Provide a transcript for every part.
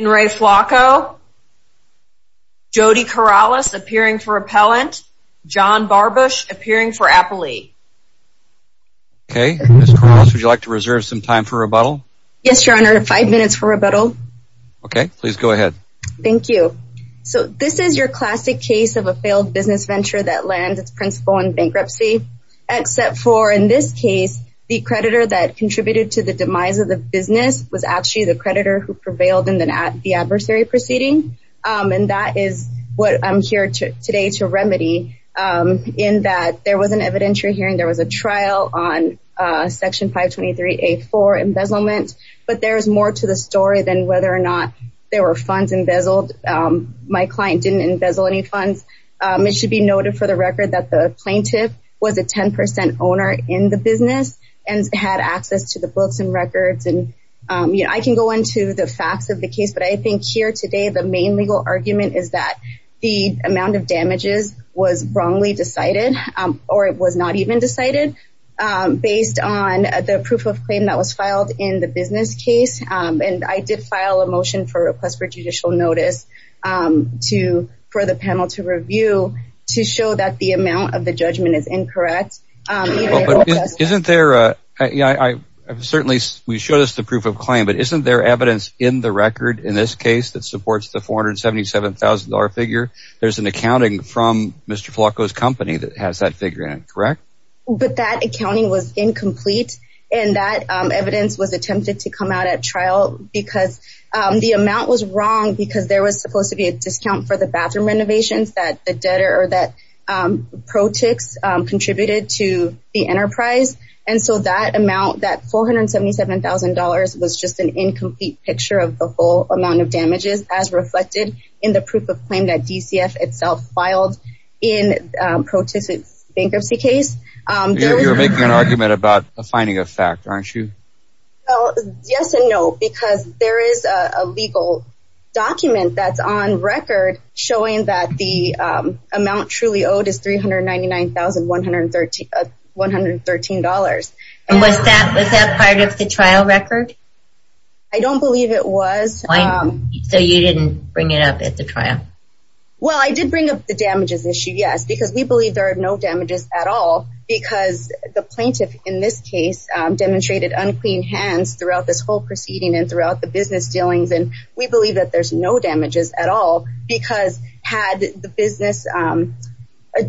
Jody Corrales appearing for repellent, John Barbush appearing for appellee. Okay. Ms. Corrales, would you like to reserve some time for rebuttal? Yes, Your Honor. Five minutes for rebuttal. Okay. Please go ahead. Thank you. So this is your classic case of a failed business venture that lands its principal in bankruptcy, except for, in this case, the creditor, the creditors. The creditor that contributed to the demise of the business was actually the creditor who prevailed in the adversary proceeding, and that is what I'm here today to remedy in that there was an evidentiary hearing. There was a trial on Section 523A4 embezzlement, but there is more to the story than whether or not there were funds embezzled. My client didn't embezzle any funds. It should be noted for the record that the plaintiff was a 10% owner in the business and had access to the books and records, and I can go into the facts of the case, but I think here today the main legal argument is that the amount of damages was wrongly decided or it was not even decided based on the proof of claim that was filed in the business case, and I did file a motion for a request for judicial notice for the panel to review to show that the amount of the judgment is incorrect. We showed us the proof of claim, but isn't there evidence in the record in this case that supports the $477,000 figure? There's an accounting from Mr. Flacco's company that has that figure in it, correct? But that accounting was incomplete, and that evidence was attempted to come out at trial because the amount was wrong because there was supposed to be a discount for the bathroom renovations that ProTix contributed to the enterprise, and so that amount, that $477,000, was just an incomplete picture of the full amount of damages as reflected in the proof of claim that DCF itself filed in ProTix's bankruptcy case. You're making an argument about a finding of fact, aren't you? Yes and no, because there is a legal document that's on record showing that the amount truly owed is $399,113. Was that part of the trial record? I don't believe it was. So you didn't bring it up at the trial? Well, I did bring up the damages issue, yes, because we believe there are no damages at all because the plaintiff in this case demonstrated unclean hands throughout this whole proceeding and throughout the business dealings, and we believe that there's no damages at all because had the business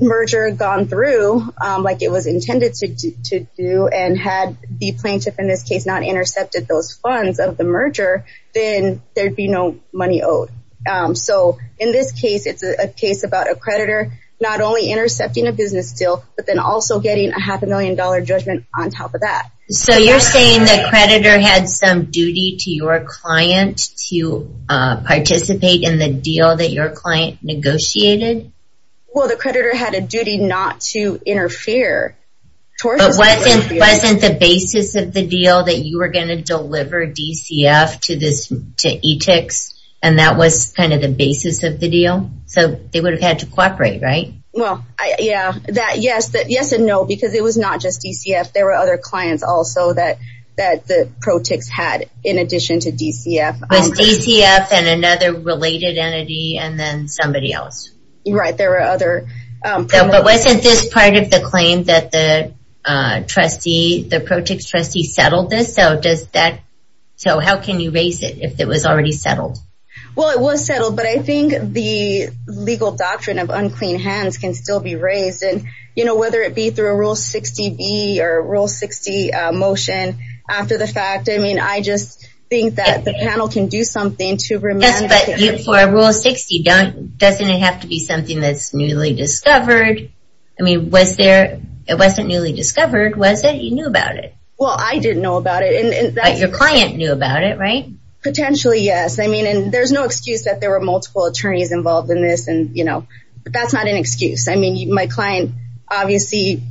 merger gone through like it was intended to do, and had the plaintiff in this case not intercepted those funds of the merger, then there'd be no money owed. So in this case, it's a case about a creditor not only intercepting a business deal, but then also getting a half a million dollar judgment on top of that. So you're saying the creditor had some duty to your client to participate in the deal that your client negotiated? But wasn't the basis of the deal that you were going to deliver DCF to ETICS, and that was kind of the basis of the deal? So they would have had to cooperate, right? Well, yes and no, because it was not just DCF. There were other clients also that the protics had in addition to DCF. Was DCF and another related entity and then somebody else? Right, there were other promoters. But wasn't this part of the claim that the protics trustee settled this? So how can you raise it if it was already settled? Well, it was settled, but I think the legal doctrine of unclean hands can still be raised. Whether it be through a Rule 60B or a Rule 60 motion after the fact, I mean, I just think that the panel can do something to remind us. But for a Rule 60, doesn't it have to be something that's newly discovered? I mean, it wasn't newly discovered, was it? You knew about it. Well, I didn't know about it. But your client knew about it, right? Potentially, yes. I mean, there's no excuse that there were multiple attorneys involved in this, but that's not an excuse. I mean, my client obviously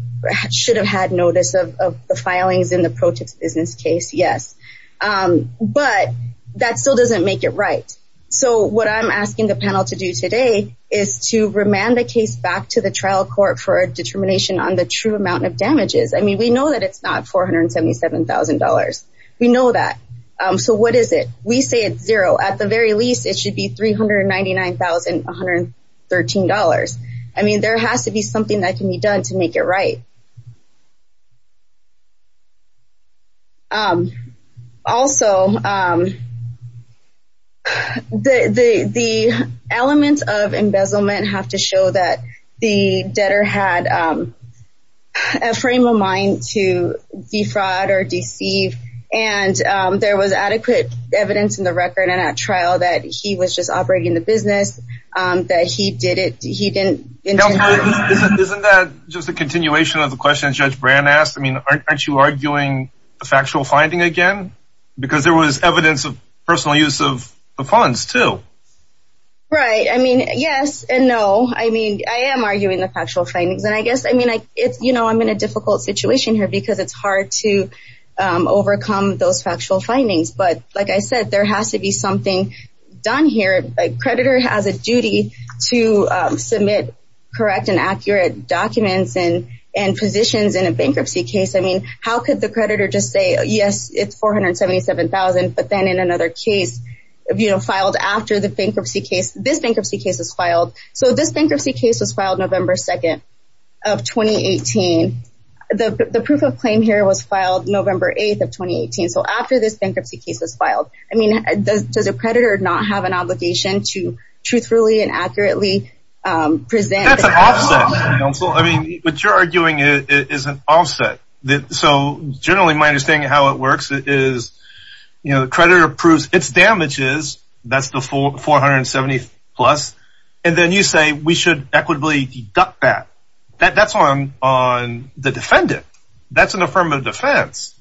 should have had notice of the filings in the protics business case, yes. But that still doesn't make it right. So what I'm asking the panel to do today is to remand the case back to the trial court for a determination on the true amount of damages. I mean, we know that it's not $477,000. We know that. So what is it? We say it's zero. At the very least, it should be $399,113. I mean, there has to be something that can be done to make it right. Also, the elements of embezzlement have to show that the debtor had a frame of mind to defraud or deceive, and there was adequate evidence in the record and at trial that he was just operating the business, that he did it. Isn't that just a continuation of the question Judge Brand asked? I mean, aren't you arguing the factual finding again? Because there was evidence of personal use of the funds too. Right. I mean, yes and no. I mean, I am arguing the factual findings. And I guess, I mean, you know, I'm in a difficult situation here because it's hard to overcome those factual findings. But like I said, there has to be something done here. A creditor has a duty to submit correct and accurate documents and positions in a bankruptcy case. I mean, how could the creditor just say, yes, it's $477,000, but then in another case, you know, filed after the bankruptcy case, this bankruptcy case was filed. So this bankruptcy case was filed November 2nd of 2018. The proof of claim here was filed November 8th of 2018. So after this bankruptcy case was filed. I mean, does a creditor not have an obligation to truthfully and accurately present? That's an offset. I mean, what you're arguing is an offset. So generally my understanding of how it works is, you know, the creditor approves its damages. That's the $470,000 plus. And then you say we should equitably deduct that. That's on the defendant. That's an affirmative defense.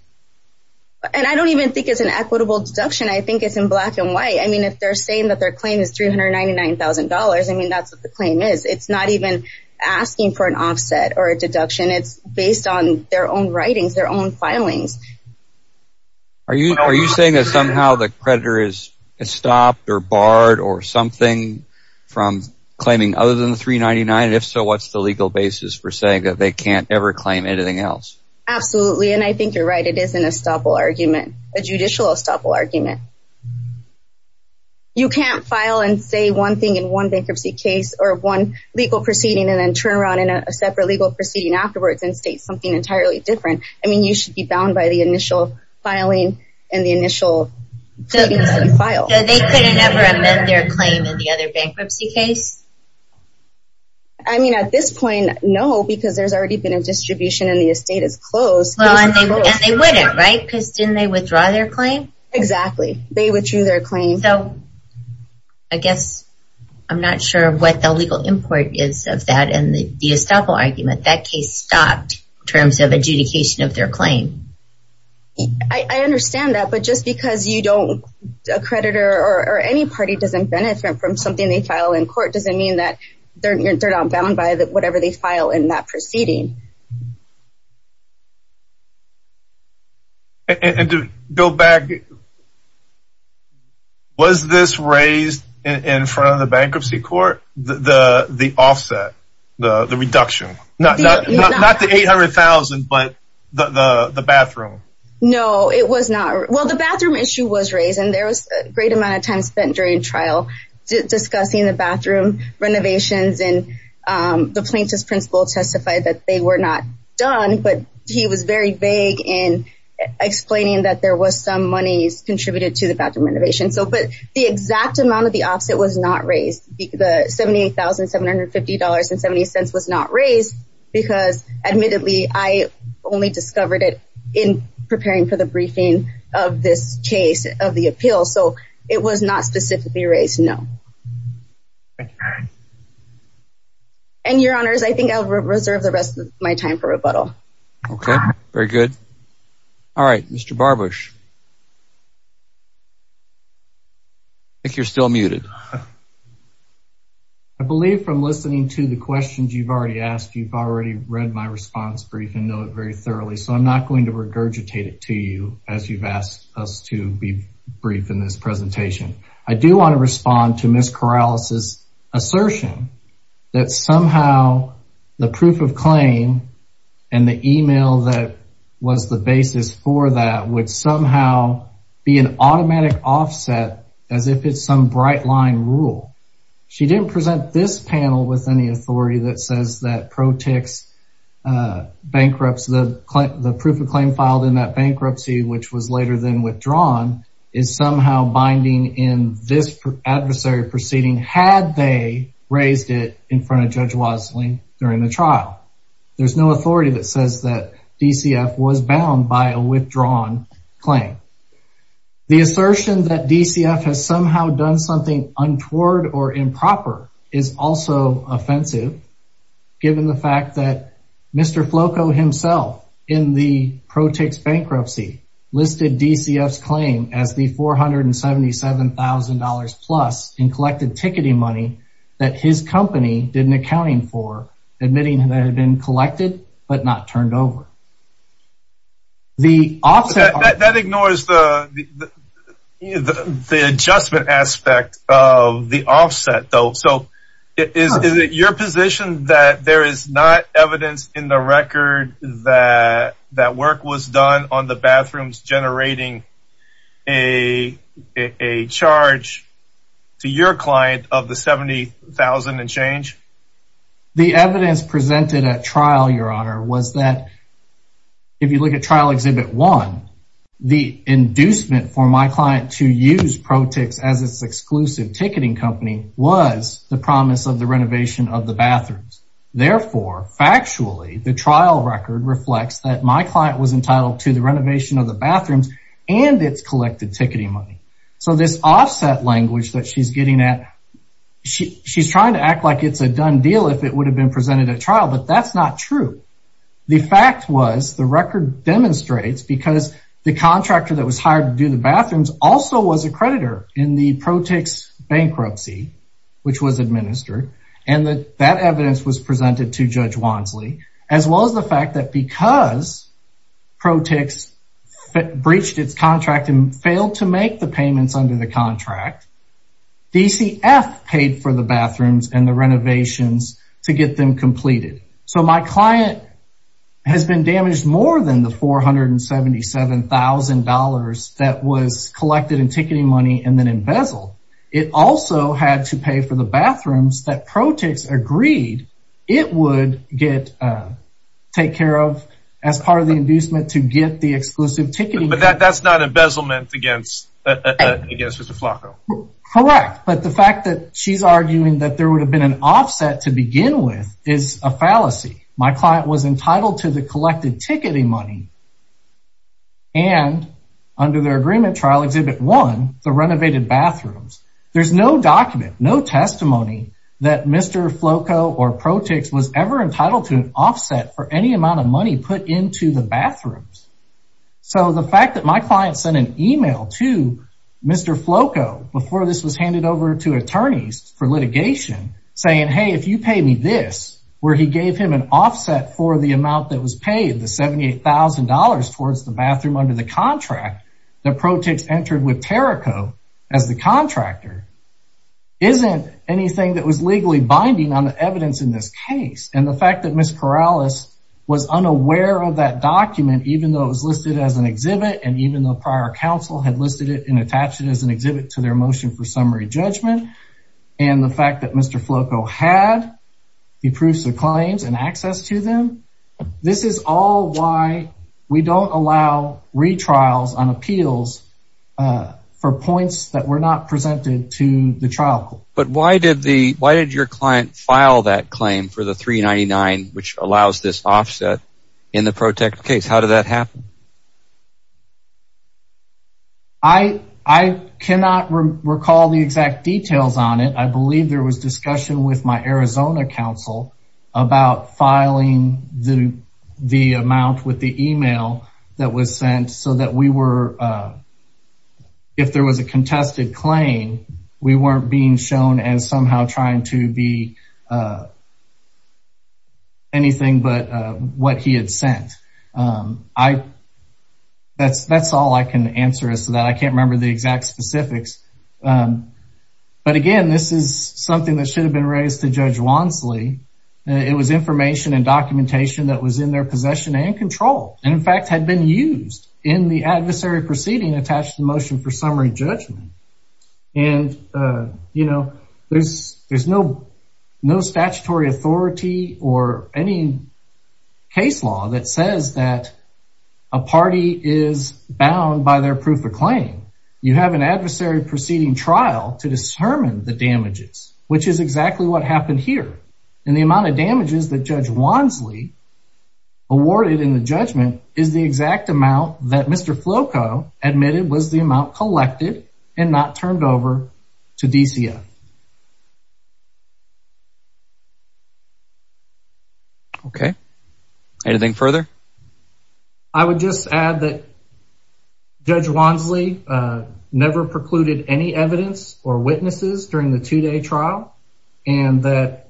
And I don't even think it's an equitable deduction. I think it's in black and white. I mean, if they're saying that their claim is $399,000, I mean, that's what the claim is. It's not even asking for an offset or a deduction. It's based on their own writings, their own filings. Are you saying that somehow the creditor is stopped or barred or something from claiming other than the $399,000? If so, what's the legal basis for saying that they can't ever claim anything else? Absolutely. And I think you're right. It is an estoppel argument, a judicial estoppel argument. You can't file and say one thing in one bankruptcy case or one legal proceeding and then turn around in a separate legal proceeding afterwards and state something entirely different. I mean, you should be bound by the initial filing and the initial claims that you filed. So they couldn't ever admit their claim in the other bankruptcy case? I mean, at this point, no, because there's already been a distribution and the estate is closed. Well, and they wouldn't, right? Because didn't they withdraw their claim? Exactly. They withdrew their claim. So I guess I'm not sure what the legal import is of that and the estoppel argument. That case stopped in terms of adjudication of their claim. I understand that. But just because you don't, a creditor or any party doesn't benefit from something they file in court doesn't mean that they're not bound by whatever they file in that proceeding. And to go back, was this raised in front of the bankruptcy court, the offset, the reduction? Not the $800,000, but the bathroom? No, it was not. Well, the bathroom issue was raised, and there was a great amount of time spent during trial discussing the bathroom renovations. And the plaintiff's principal testified that they were not done, but he was very vague in explaining that there was some monies contributed to the bathroom renovation. But the exact amount of the offset was not raised. The $78,750.70 was not raised because, admittedly, I only discovered it in preparing for the briefing of this case of the appeal. So it was not specifically raised, no. And, Your Honors, I think I'll reserve the rest of my time for rebuttal. Okay, very good. All right, Mr. Barbusch. I think you're still muted. I believe from listening to the questions you've already asked, you've already read my response brief and know it very thoroughly, so I'm not going to regurgitate it to you as you've asked us to be brief in this presentation. I do want to respond to Ms. Corrales' assertion that somehow the proof of claim and the email that was the basis for that would somehow be an automatic offset as if it's some bright-line rule. She didn't present this panel with any authority that says that ProTix bankrupts. The proof of claim filed in that bankruptcy, which was later than withdrawn, is somehow binding in this adversary proceeding, had they raised it in front of Judge Wasling during the trial. There's no authority that says that DCF was bound by a withdrawn claim. The assertion that DCF has somehow done something untoward or improper is also offensive, given the fact that Mr. Floco himself, in the ProTix bankruptcy, listed DCF's claim as the $477,000-plus in collected ticketing money that his company did an accounting for, admitting that it had been collected but not turned over. That ignores the adjustment aspect of the offset, though. So is it your position that there is not evidence in the record that work was done on the bathrooms generating a charge to your client of the $70,000 and change? The evidence presented at trial, Your Honor, was that if you look at trial Exhibit 1, the inducement for my client to use ProTix as its exclusive ticketing company was the promise of the renovation of the bathrooms. Therefore, factually, the trial record reflects that my client was entitled to the renovation of the bathrooms and its collected ticketing money. So this offset language that she's getting at, she's trying to act like it's a done deal if it would have been presented at trial, but that's not true. The fact was the record demonstrates, because the contractor that was hired to do the bathrooms also was a creditor in the ProTix bankruptcy, which was administered, and that evidence was presented to Judge Wansley, as well as the fact that because ProTix breached its contract and failed to make the payments under the contract, DCF paid for the bathrooms and the renovations to get them completed. So my client has been damaged more than the $477,000 that was collected in ticketing money and then embezzled. It also had to pay for the bathrooms that ProTix agreed it would take care of as part of the inducement to get the exclusive ticketing. But that's not embezzlement against Mr. Flacco. Correct, but the fact that she's arguing that there would have been an offset to begin with is a fallacy. My client was entitled to the collected ticketing money, and under their agreement, Trial Exhibit 1, the renovated bathrooms. There's no document, no testimony that Mr. Flacco or ProTix was ever entitled to an offset for any amount of money put into the bathrooms. So the fact that my client sent an email to Mr. Flacco before this was handed over to attorneys for litigation saying, hey, if you pay me this, where he gave him an offset for the amount that was paid, the $78,000 towards the bathroom under the contract that ProTix entered with TerraCo as the contractor, isn't anything that was legally binding on the evidence in this case. And the fact that Ms. Corrales was unaware of that document, even though it was listed as an exhibit, and even though prior counsel had listed it and attached it as an exhibit to their motion for summary judgment, and the fact that Mr. Flacco had the proofs of claims and access to them, this is all why we don't allow retrials on appeals for points that were not presented to the trial court. But why did your client file that claim for the $399,000, which allows this offset in the ProTix case? How did that happen? I cannot recall the exact details on it. I believe there was discussion with my Arizona counsel about filing the amount with the email that was sent so that we were, if there was a contested claim, we weren't being shown as somehow trying to be anything but what he had sent. That's all I can answer as to that. I can't remember the exact specifics. But again, this is something that should have been raised to Judge Wansley. It was information and documentation that was in their possession and control, and in fact had been used in the adversary proceeding attached to the motion for summary judgment. And, you know, there's no statutory authority or any case law that says that a party is bound by their proof of claim. You have an adversary proceeding trial to determine the damages, which is exactly what happened here. And the amount of damages that Judge Wansley awarded in the judgment is the exact amount that Mr. Flacco admitted was the amount collected and not turned over to DCF. Okay. Anything further? I would just add that Judge Wansley never precluded any evidence or witnesses during the two-day trial, and that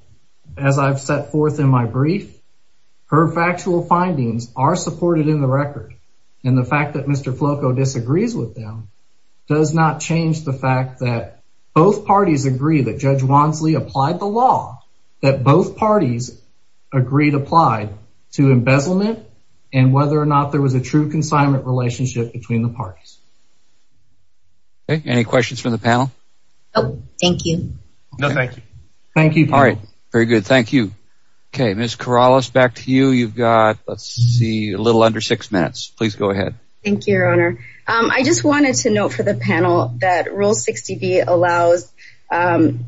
as I've set forth in my brief, her factual findings are supported in the record. And the fact that Mr. Flacco disagrees with them does not change the fact that both parties agree that Judge Wansley applied the law, that both parties agreed applied to embezzlement, and whether or not there was a true consignment relationship between the parties. Okay. Any questions from the panel? No, thank you. No, thank you. Thank you. All right. Very good. Thank you. Okay. Ms. Corrales, back to you. You've got, let's see, a little under six minutes. Please go ahead. Thank you, Your Honor. I just wanted to note for the panel that Rule 60B allows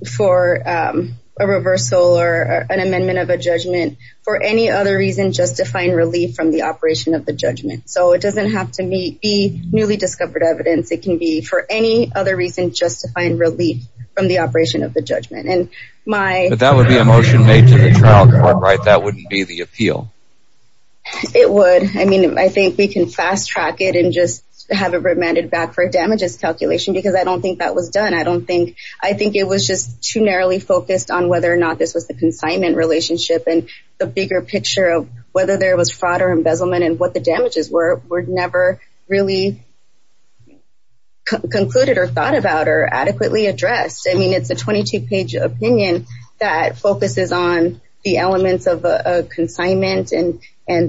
for a reversal or an amendment of a judgment for any other reason justifying relief from the operation of the judgment. So it doesn't have to be newly discovered evidence. It can be for any other reason justifying relief from the operation of the judgment. But that would be a motion made to the trial court, right? That wouldn't be the appeal. It would. I mean, I think we can fast-track it and just have it remanded back for a damages calculation because I don't think that was done. I don't think, I think it was just too narrowly focused on whether or not this was the consignment relationship and the bigger picture of whether there was fraud or embezzlement and what the damages were were never really concluded or thought about or adequately addressed. I mean, it's a 22-page opinion that focuses on the elements of a consignment and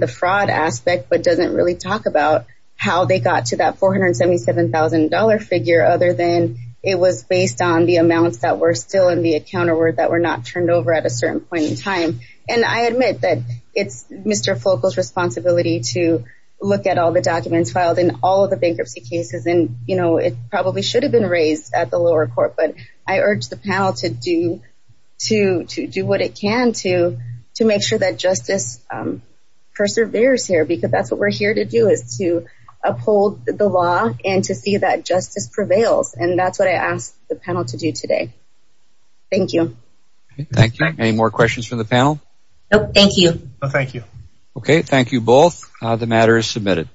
the fraud aspect but doesn't really talk about how they got to that $477,000 figure other than it was based on the amounts that were still in the account or that were not turned over at a certain point in time. And I admit that it's Mr. Flockel's responsibility to look at all the documents filed in all of the bankruptcy cases and, you know, it probably should have been raised at the lower court. But I urge the panel to do what it can to make sure that justice perseveres here because that's what we're here to do is to uphold the law and to see that justice prevails. And that's what I ask the panel to do today. Thank you. Thank you. Any more questions from the panel? No, thank you. No, thank you. Okay, thank you both. The matter is submitted.